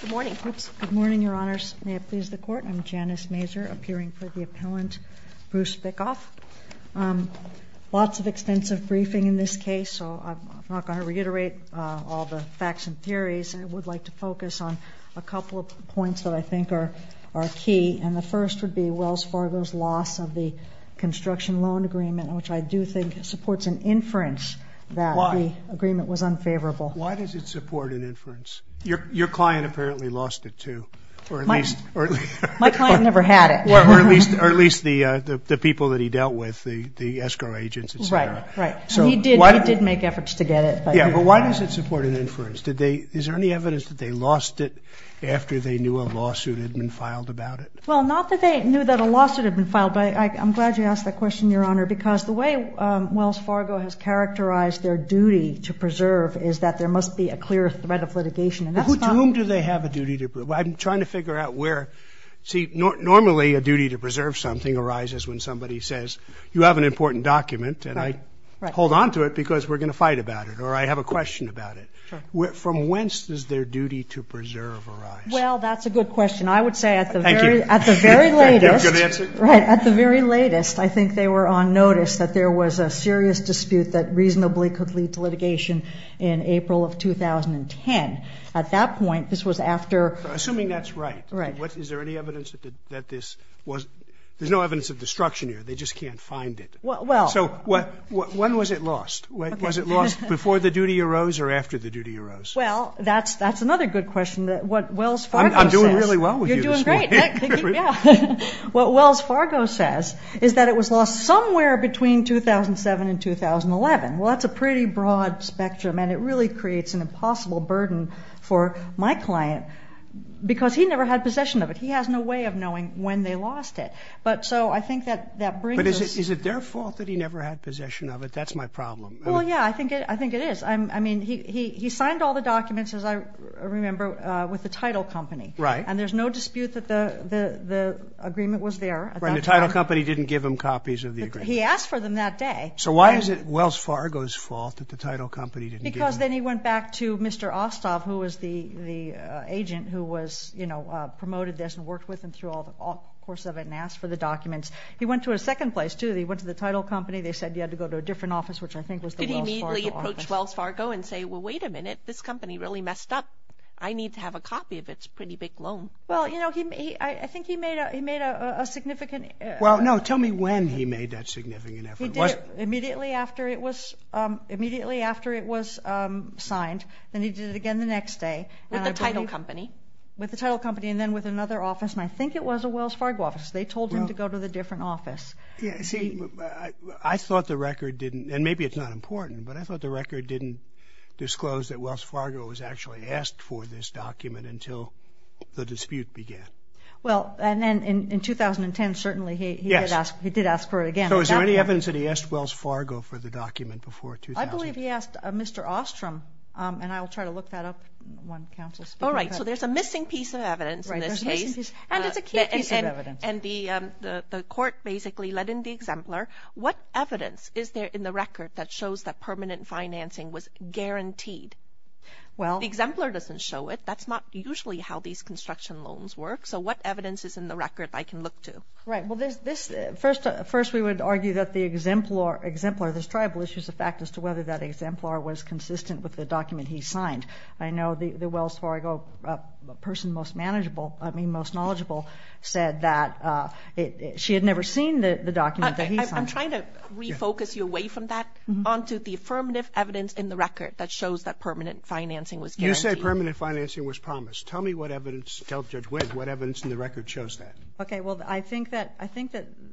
Good morning, Your Honors. May it please the Court? I'm Janice Mazur, appearing for the appellant, Bruce Bickoff. Lots of extensive briefing in this case, so I'm not going to reiterate all the facts and theories. I would like to focus on a couple of points that I think are key, and the first would be Wells Fargo's loss of the construction loan agreement, which I do think supports an inference that the agreement was unfavorable. Why does it support an inference? Your client apparently lost it, too. My client never had it. Or at least the people that he dealt with, the escrow agents, etc. Right, right. He did make efforts to get it. Yeah, but why does it support an inference? Is there any evidence that they lost it after they knew a lawsuit had been filed about it? Well, not that they knew that a lawsuit had been filed, but I'm glad you brought that up. Well, I think what Wells Fargo has characterized their duty to preserve is that there must be a clear threat of litigation, and that's not Who to whom do they have a duty to preserve? I'm trying to figure out where See, normally a duty to preserve something arises when somebody says, you have an important document, and I hold on to it because we're going to fight about it, or I have a question about it. Sure. From whence does their duty to preserve arise? Well, that's a good question. I would say at the very latest Thank you. That's a good answer. Right. At the very latest, I think they were on that reasonably could lead to litigation in April of 2010. At that point, this was after Assuming that's right. Right. Is there any evidence that this was There's no evidence of destruction here. They just can't find it. Well, so when was it lost? Was it lost before the duty arose or after the duty arose? Well, that's another good question. What Wells Fargo says I'm doing really well with you this morning. You're doing great. Yeah. What Wells Fargo says is that it was lost somewhere between 2007 and 2011. Well, that's a pretty broad spectrum, and it really creates an impossible burden for my client because he never had possession of it. He has no way of knowing when they lost it. But so I think that that brings it. Is it their fault that he never had possession of it? That's my problem. Well, yeah, I think I think it is. I mean, he signed all the documents, as I remember, with the title company, right? And there's no dispute that the agreement was there. The title company didn't give him copies of the agreement. He asked for them that day. So why is it Wells Fargo's fault that the title company didn't give him? Because then he went back to Mr. Ostov, who was the the agent who was, you know, promoted this and worked with him through all the course of it and asked for the documents. He went to a second place, too. He went to the title company. They said you had to go to a different office, which I think was the Wells Fargo office. Did he immediately approach Wells Fargo and say, Well, wait a minute. This company really messed up. I need to have a copy of its pretty big loan. Well, you know, I think he made a significant... Well, no, tell me when he made that significant effort. He did it immediately after it was immediately after it was signed. Then he did it again the next day. With the title company? With the title company and then with another office, and I think it was a Wells Fargo office. They told him to go to the different office. Yeah, see, I thought the record didn't, and maybe it's not important, but I thought the record didn't disclose that Wells Fargo was actually asked for this document until the dispute began. Well, and then in 2010, certainly, he did ask for it again. So is there any evidence that he asked Wells Fargo for the document before 2000? I believe he asked Mr. Ostrom, and I'll try to look that up when counsel's speaking. All right, so there's a missing piece of evidence in this case, and it's a key piece of evidence, and the court basically let in the exemplar. What evidence is there in the record that shows that permanent financing was guaranteed? Well, the exemplar doesn't show it. That's not usually how these construction loans work, so what evidence is in the record I can look to? Right, well, first we would argue that the exemplar, this tribal issue, is a fact as to whether that exemplar was consistent with the document he signed. I know the Wells Fargo person most manageable, I mean most knowledgeable, said that she had never seen the document that he signed. I'm trying to refocus you away from that onto the affirmative evidence in the record that shows that permanent financing was guaranteed. You say permanent financing was promised. Tell me what evidence, tell Judge Wendt, what evidence in the record shows that. Okay, well, I think that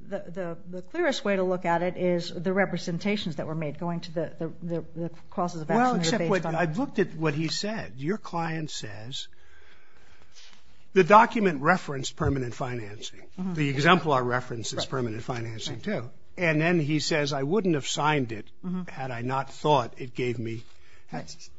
the clearest way to look at it is the representations that were made going to the causes of action. Well, except I've looked at what he said. Your client says the document referenced permanent financing. The exemplar references permanent financing, too, and then he says I wouldn't have signed it had I not thought it gave me...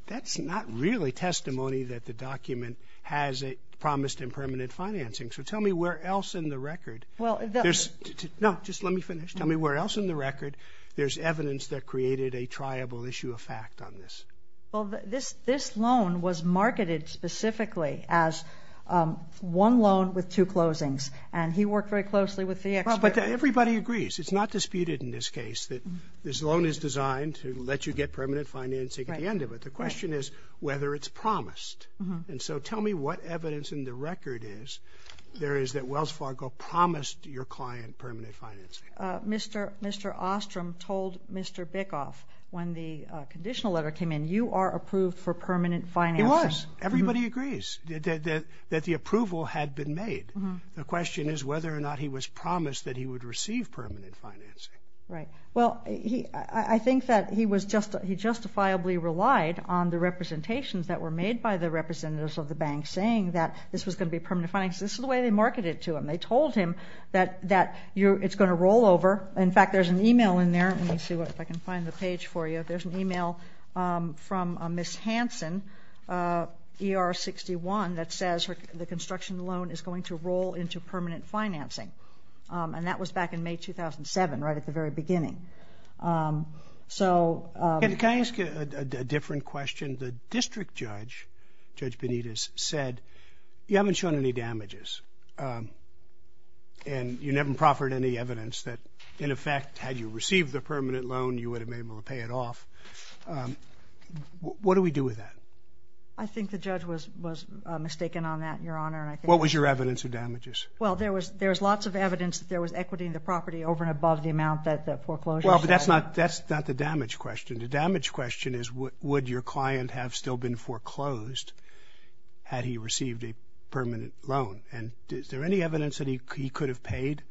That's not really testimony that the document has a promised and permanent financing, so tell me where else in the record... No, just let me finish. Tell me where else in the record there's evidence that created a triable issue of fact on this? Well, this this loan was marketed specifically as one loan with two closings, and he worked very closely with the expert. But everybody agrees, it's not disputed in this case, that this loan is designed to let you get permanent financing at the end of it. The question is whether it's promised, and so tell me what evidence in the record is there is that Wells Fargo promised your client permanent financing. Mr. Ostrom told Mr. Bickoff when the conditional letter came in, you are approved for permanent financing. It was. Everybody agrees that the approval had been made. The question is whether or not he was promised that he would receive permanent financing. Right. Well, I think that he justifiably relied on the representations that were made by the representatives of the bank saying that this was going to be permanent financing. This is the way they marketed to him. They told him that it's going to roll over. In fact, there's an email in there. Let me see if I can find the page for you. There's an email from Miss Hanson, ER 61, that says the construction loan is going to roll into permanent financing, and that was back in May 2007, right at the very beginning. So... Can I ask a different question? The district judge, Judge Benitez, said you haven't shown any damages, and you never proffered any evidence that, in effect, had you received the permanent loan, you would have been able to pay it off. What do we do with that? I think the judge was was mistaken on that, Your Honor. What was your There's lots of evidence that there was equity in the property over and above the amount that the foreclosure... Well, but that's not the damage question. The damage question is would your client have still been foreclosed had he received a permanent loan, and is there any evidence that he could have paid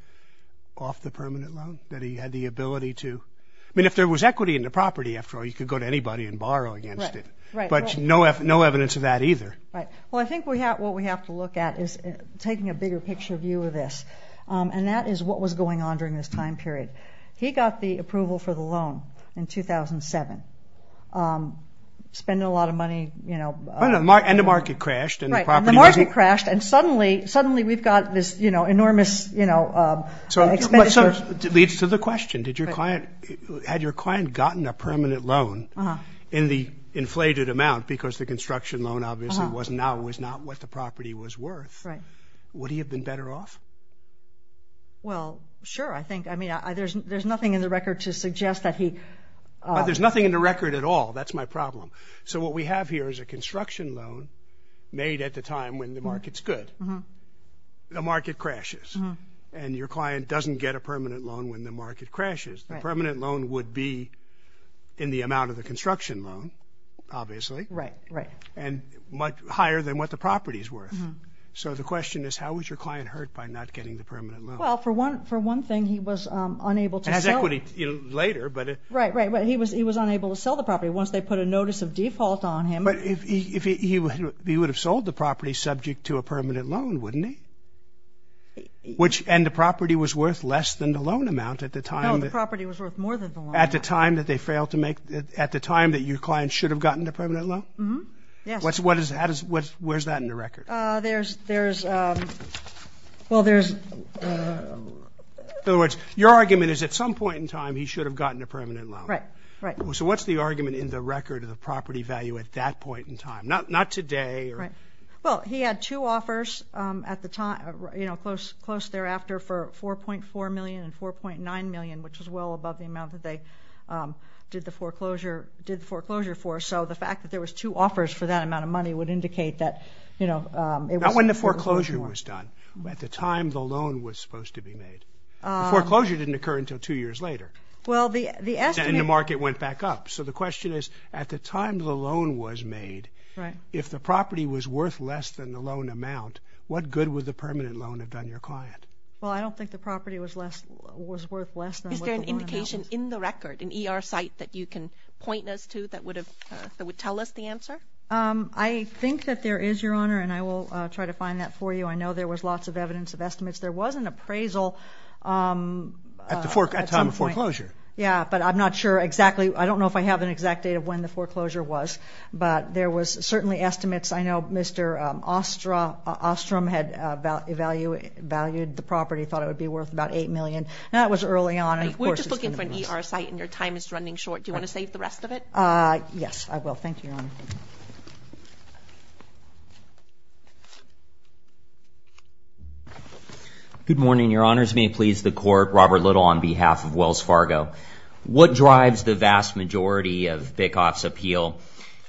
off the permanent loan, that he had the ability to... I mean, if there was equity in the property, after all, you could go to anybody and borrow against it. Right. But no evidence of that either. Right. Well, I think what we have to view of this, and that is what was going on during this time period. He got the approval for the loan in 2007, spending a lot of money, you know... And the market crashed, and the property... Right, and the market crashed, and suddenly, suddenly we've got this, you know, enormous, you know, expenditure... So, it leads to the question. Did your client... Had your client gotten a permanent loan in the inflated amount, because the construction loan, obviously, was not what the property was worth. Right. Would he have been better off? Well, sure, I think. I mean, there's nothing in the record to suggest that he... But there's nothing in the record at all. That's my problem. So, what we have here is a construction loan made at the time when the market's good. The market crashes, and your client doesn't get a permanent loan when the market crashes. The permanent loan would be in the amount of the construction loan, obviously. Right, right. And much higher than what the property is worth. So, the question is, how was your client hurt by not getting the permanent loan? Well, for one thing, he was unable to sell... It has equity later, but... Right, right, but he was unable to sell the property once they put a notice of default on him. But if he would have sold the property subject to a permanent loan, wouldn't he? And the property was worth less than the loan amount at the time... No, the property was worth more than the loan amount. At the time that they failed to make... At the time that your client should have gotten the permanent loan, where's that in the record? There's... Well, there's... In other words, your argument is, at some point in time, he should have gotten a permanent loan. Right, right. So, what's the argument in the record of the property value at that point in time? Not today. Right. Well, he had two offers at the time, you know, close thereafter for $4.4 million and $4.9 million, which was well above the amount that they did the foreclosure for. So, the fact that there was two offers for that amount of money would indicate that, you know, it wasn't... Not when the foreclosure was done. At the time the loan was supposed to be made. The foreclosure didn't occur until two years later. Well, the estimate... And the market went back up. So, the question is, at the time the loan was made, if the property was worth less than the loan amount, what good would the permanent loan have done your client? Well, I don't think the property was less, was worth less than the loan amount. Is there an indication in the record, an ER site that you can point us to that would tell us the answer? I think that there is, Your Honor, and I will try to find that for you. I know there was lots of evidence of estimates. There was an appraisal... At the time of foreclosure. Yeah, but I'm not sure exactly. I don't know if I have an exact date of when the foreclosure was, but there was certainly estimates. I know Mr. Ostrom had valued the property, thought it would be worth about $8 million. That was early on. We're just looking for an ER site and your time is running short. Do you want to save the time? Yes, I will. Thank you, Your Honor. Good morning, Your Honors. May it please the Court, Robert Little on behalf of Wells Fargo. What drives the vast majority of Bickoff's appeal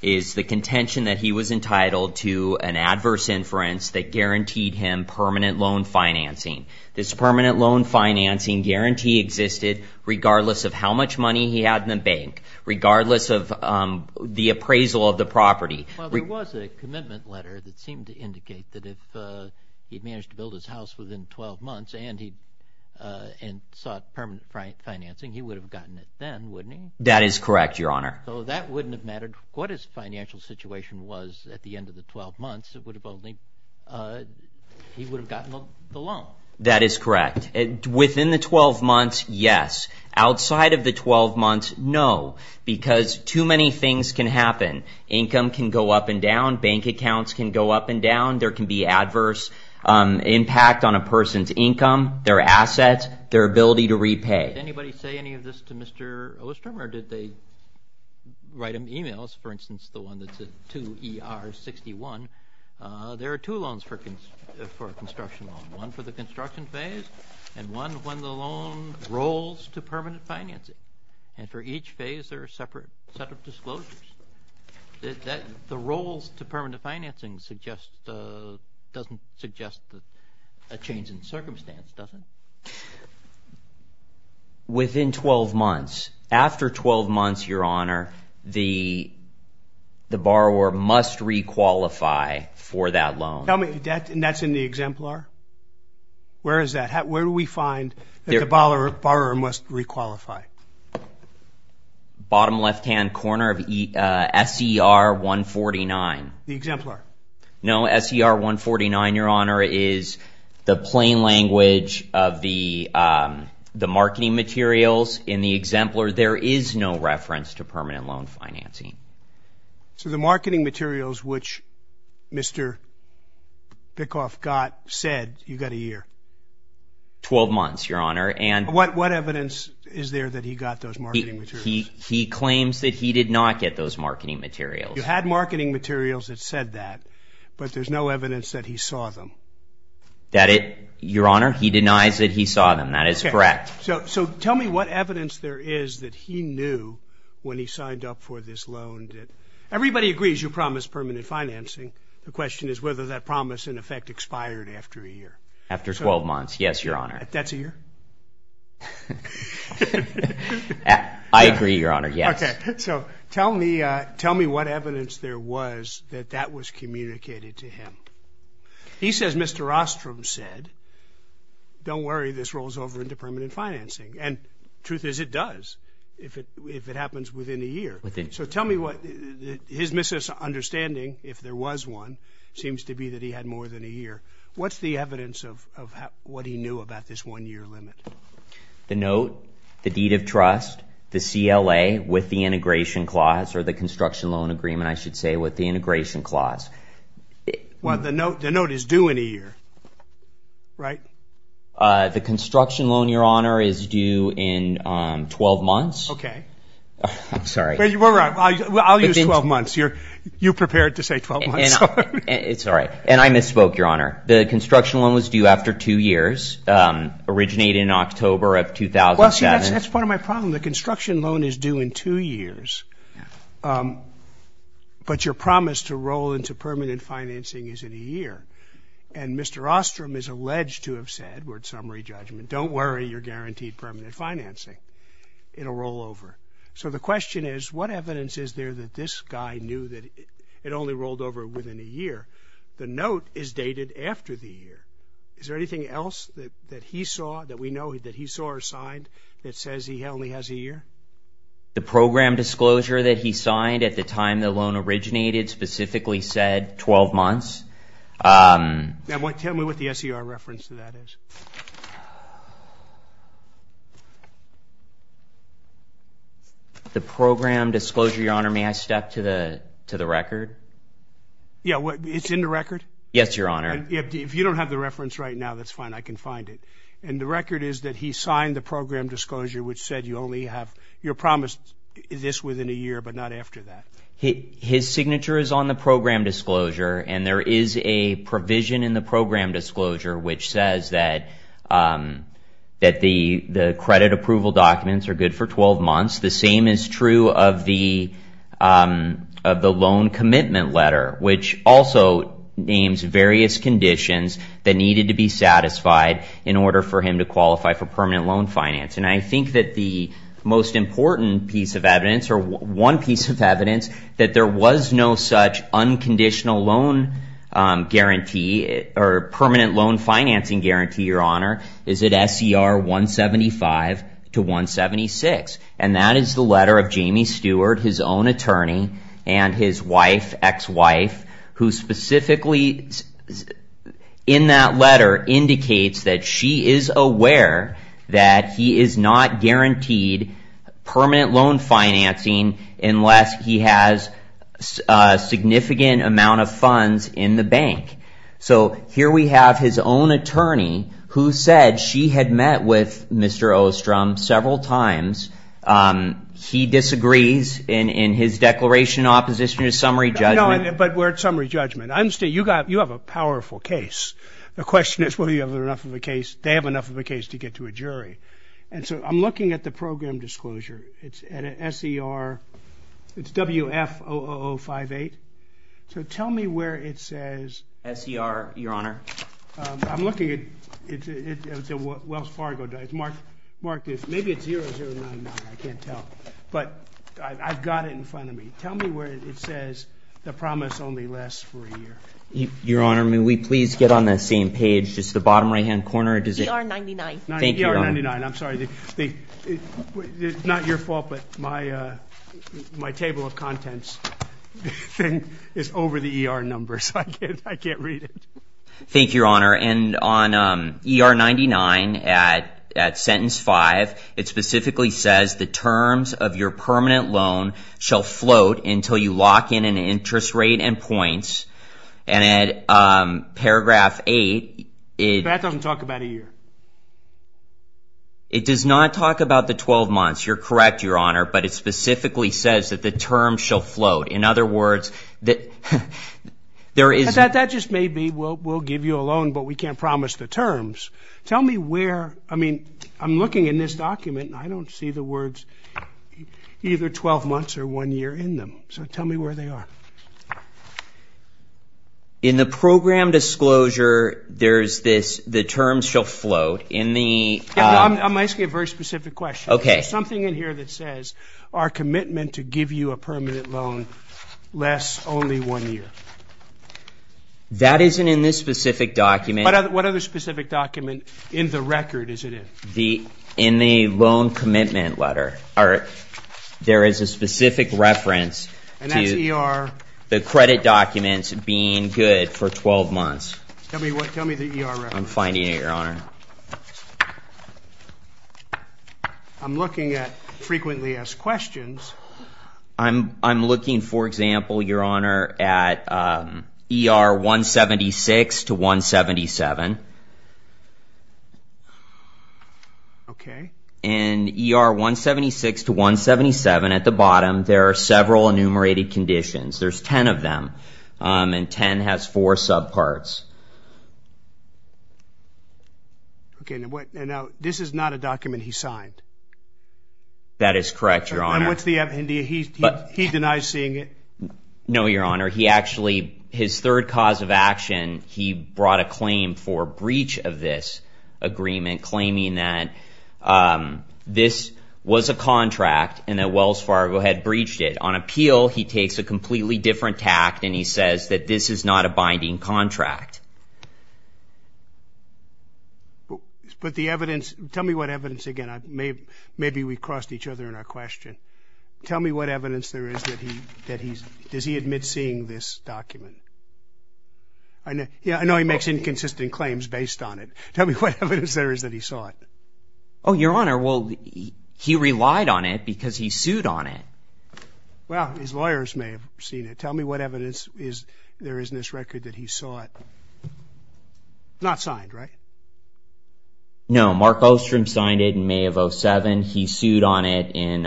is the contention that he was entitled to an adverse inference that guaranteed him permanent loan financing. This permanent loan financing guarantee existed regardless of how much money he had in the bank, regardless of the appraisal of the property. Well, there was a commitment letter that seemed to indicate that if he'd managed to build his house within 12 months and he sought permanent financing, he would have gotten it then, wouldn't he? That is correct, Your Honor. So that wouldn't have mattered. What his financial situation was at the end of the 12 months, it would have only... he would have gotten the loan. That is outside of the 12 months, no, because too many things can happen. Income can go up and down. Bank accounts can go up and down. There can be adverse impact on a person's income, their assets, their ability to repay. Did anybody say any of this to Mr. Ostrom or did they write him emails? For instance, the one that's a 2ER61. There are two loans for construction loan. One for the construction phase and one when the loan rolls to permanent financing. And for each phase, there are separate set of disclosures. The rolls to permanent financing suggest... doesn't suggest a change in circumstance, does it? Within 12 months, after 12 months, Your Honor, the borrower must re-qualify for that loan. Tell me, that's in the exemplar? Where is that? Where do we find that the borrower must re-qualify? Bottom left-hand corner of SCR149. The exemplar? No, SCR149, Your Honor, is the plain language of the marketing materials. In the exemplar, there is no reference to permanent loan financing. So the marketing materials which Mr. Bickoff got said you got a year? 12 months, Your Honor, and... What evidence is there that he got those marketing materials? He claims that he did not get those marketing materials. You had marketing materials that said that, but there's no evidence that he saw them. That it, Your Honor, he denies that he saw them. That is correct. So tell me what evidence there is that he knew when he financing, the question is whether that promise in effect expired after a year? After 12 months, yes, Your Honor. That's a year? I agree, Your Honor, yes. Okay, so tell me, tell me what evidence there was that that was communicated to him. He says Mr. Ostrom said, don't worry, this rolls over into permanent financing, and truth is, it does, if it happens within a year. So tell me what his misunderstanding if there was one seems to be that he had more than a year. What's the evidence of what he knew about this one-year limit? The note, the deed of trust, the CLA with the integration clause, or the construction loan agreement, I should say, with the integration clause. Well, the note is due in a year, right? The construction loan, Your Honor, is due in 12 months. Okay. I'm sorry. I'll use 12 months. You're prepared to say 12 months. It's all right, and I misspoke, Your Honor. The construction loan was due after two years, originated in October of 2007. Well, see, that's part of my problem. The construction loan is due in two years, but your promise to roll into permanent financing is in a year, and Mr. Ostrom is alleged to have said, we're at summary judgment, don't worry, you're guaranteed permanent financing. It'll roll over. So the question is, what evidence is there that this guy knew that it only rolled over within a year? The note is dated after the year. Is there anything else that he saw, that we know that he saw or signed, that says he only has a year? The program disclosure that he signed at the time the loan originated specifically said 12 months. Now, tell me what the disclosure, Your Honor, may I step to the record? Yeah, it's in the record? Yes, Your Honor. If you don't have the reference right now, that's fine. I can find it. And the record is that he signed the program disclosure, which said you only have, you're promised this within a year, but not after that. His signature is on the program disclosure, and there is a provision in the program disclosure which says that the credit approval documents are good for 12 months. The same is true of the loan commitment letter, which also names various conditions that needed to be satisfied in order for him to qualify for permanent loan finance. And I think that the most important piece of evidence, or one piece of evidence, that there was no such unconditional loan guarantee or permanent loan financing guarantee, Your Honor, is at SCR 175 to 176. And that is the letter of Jamie Stewart, his own attorney, and his wife, ex-wife, who specifically in that letter indicates that she is aware that he is not guaranteed permanent loan financing unless he has a significant amount of funds in the bank. So here we have his own attorney who said she had met with Mr. Ostrom several times. He disagrees in his declaration in opposition to summary judgment. But we're at summary judgment. I understand, you have a powerful case. The question is, well, do you have enough of a case? They have enough of a case to get to a jury. And so I'm looking at the program disclosure. It's at an SCR, it's WF-00058. So tell me where it says... SCR, Your Honor. I'm looking at Wells Fargo. It's marked, maybe it's 0099, I can't tell. But I've got it in front of me. Tell me where it says the promise only lasts for a year. Your Honor, may we please get on the same page, just the bottom right-hand corner, does it... ER-99. I'm sorry. Not your fault, but my table of contents thing is over the ER number, so I can't read it. Thank you, Your Honor. And on ER-99, at sentence five, it specifically says the terms of your permanent loan shall float until you lock in an interest rate and points. And at paragraph eight... That doesn't talk about a year. It does not talk about the 12 months. You're correct, Your Honor, but it specifically says that the term shall float. In other words, that there is... That just may be. We'll give you a loan, but we can't promise the terms. Tell me where, I mean, I'm looking in this document and I don't see the words either 12 months or one year in them. So tell me where they are. In the program disclosure, there's this, the terms shall float in the... I'm asking a very specific question. Okay. There's something in here that says our commitment to give you a permanent loan lasts only one year. That isn't in this specific document. What other specific document in the record is it in? In the loan commitment letter, there is a specific reference to the credit documents being good for 12 months. Tell me the ER reference. I'm finding it, Your Honor. I'm looking at frequently asked questions. I'm looking, for example, Your Honor, at ER 176 to 177. Okay. In ER 176 to 177, at the bottom, there are several enumerated conditions. There's 10 of them, and 10 has four subparts. Okay. Now, this is not a document he signed. That is correct, Your Honor. And what's the... he denies seeing it? No, Your Honor. He actually, his third cause of action, he brought a claim for breach of this agreement, claiming that this was a contract and Wells Fargo had breached it. On appeal, he takes a completely different tact, and he says that this is not a binding contract. But the evidence, tell me what evidence, again, maybe we crossed each other in our question. Tell me what evidence there is that he, that he's, does he admit seeing this document? I know, yeah, I know he makes inconsistent claims based on it. Tell me what evidence there is that he saw it? Oh, Your Honor, well, he relied on it because he sued on it. Well, his lawyers may have seen it. Tell me what evidence is, there is in this record that he saw it. Not signed, right? No, Mark Ostrom signed it in May of 07. He sued on it in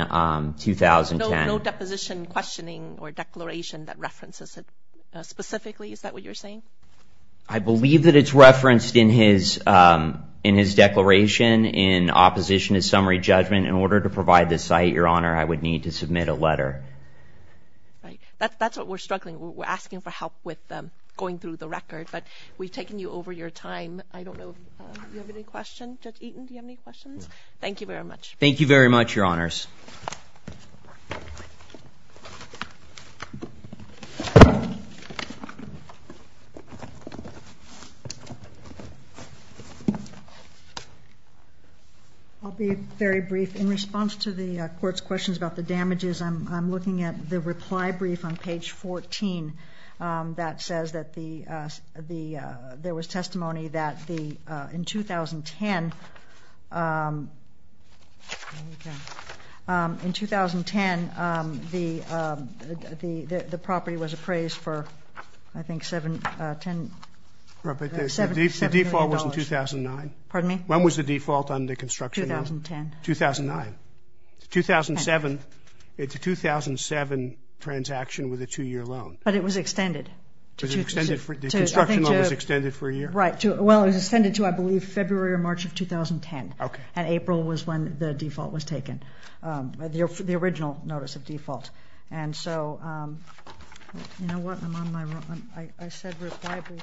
2010. No deposition questioning or declaration that references it specifically, is that what you're saying? I believe that it's a declaration in opposition to summary judgment. In order to provide this site, Your Honor, I would need to submit a letter. Right, that's what we're struggling with. We're asking for help with going through the record, but we've taken you over your time. I don't know if you have any questions. Judge Eaton, do you have any questions? Thank you very much. Thank you very much, Your Honors. I'll be very brief. In response to the court's questions about the damages, I'm looking at the reply brief on page 14 that says that there was testimony that in 2010, the property was appraised for, I think, $7 million. The default was in 2009. Pardon me? When was the default on the construction loan? 2010. 2009. 2007, it's a 2007 transaction with a two-year loan. But it was extended. The construction loan was extended for a year? Right. Well, it was extended to, I believe, February or March of 2010. Okay. And April was when the default was taken, the original notice of default. And so, you know what? I'm on my own. I said reply brief.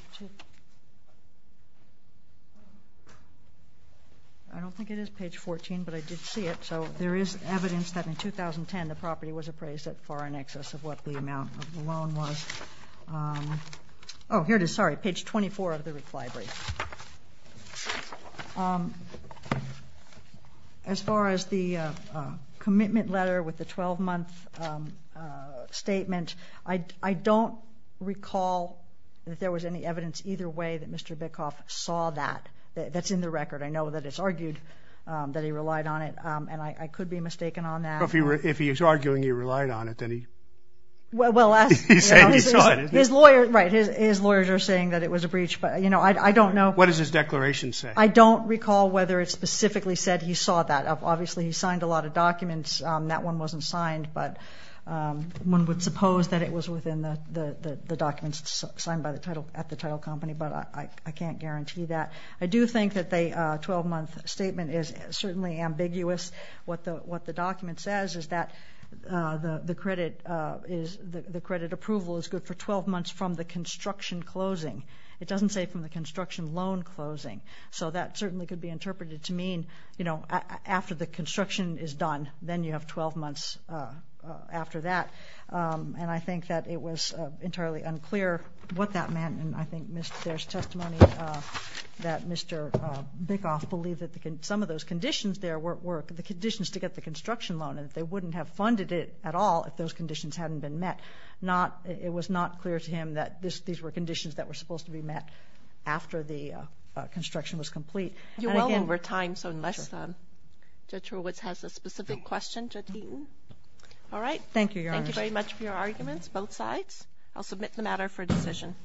I don't think it is page 14, but I did see it. So there is evidence that in 2010, the property was appraised at far in excess of what the amount of the loan was. Oh, here it is. Sorry. Page 24 of the reply brief. As far as the commitment letter with the 12-month statement, I don't recall that there was any evidence either way that Mr. Bickoff saw that. That's in the record. I know that it's argued that he relied on it, and I could be mistaken on that. But if he was arguing he relied on it, well, his lawyers are saying that it was a breach. But, you know, I don't know. What does his declaration say? I don't recall whether it specifically said he saw that. Obviously, he signed a lot of documents. That one wasn't signed, but one would suppose that it was within the documents signed at the title company, but I can't guarantee that. I do think that the 12-month statement is certainly ambiguous. What the document says is that the credit approval is good for 12 months from the construction closing. It doesn't say from the construction loan closing. So that certainly could be interpreted to mean, you know, after the construction is done, then you have 12 months after that. And I think that it was entirely unclear what that meant, and I think there's testimony that Mr. Bickoff believed that some of those conditions there were the conditions to get the construction loan, and that they wouldn't have funded it at all if those conditions hadn't been met. It was not clear to him that these were conditions that were supposed to be met after the construction was complete. You're well over time, so unless Judge Hurwitz has a specific question, Judge Eaton? All right. Thank you, Your Honor. Thank you very much for your arguments, both sides. I'll submit the matter for decision.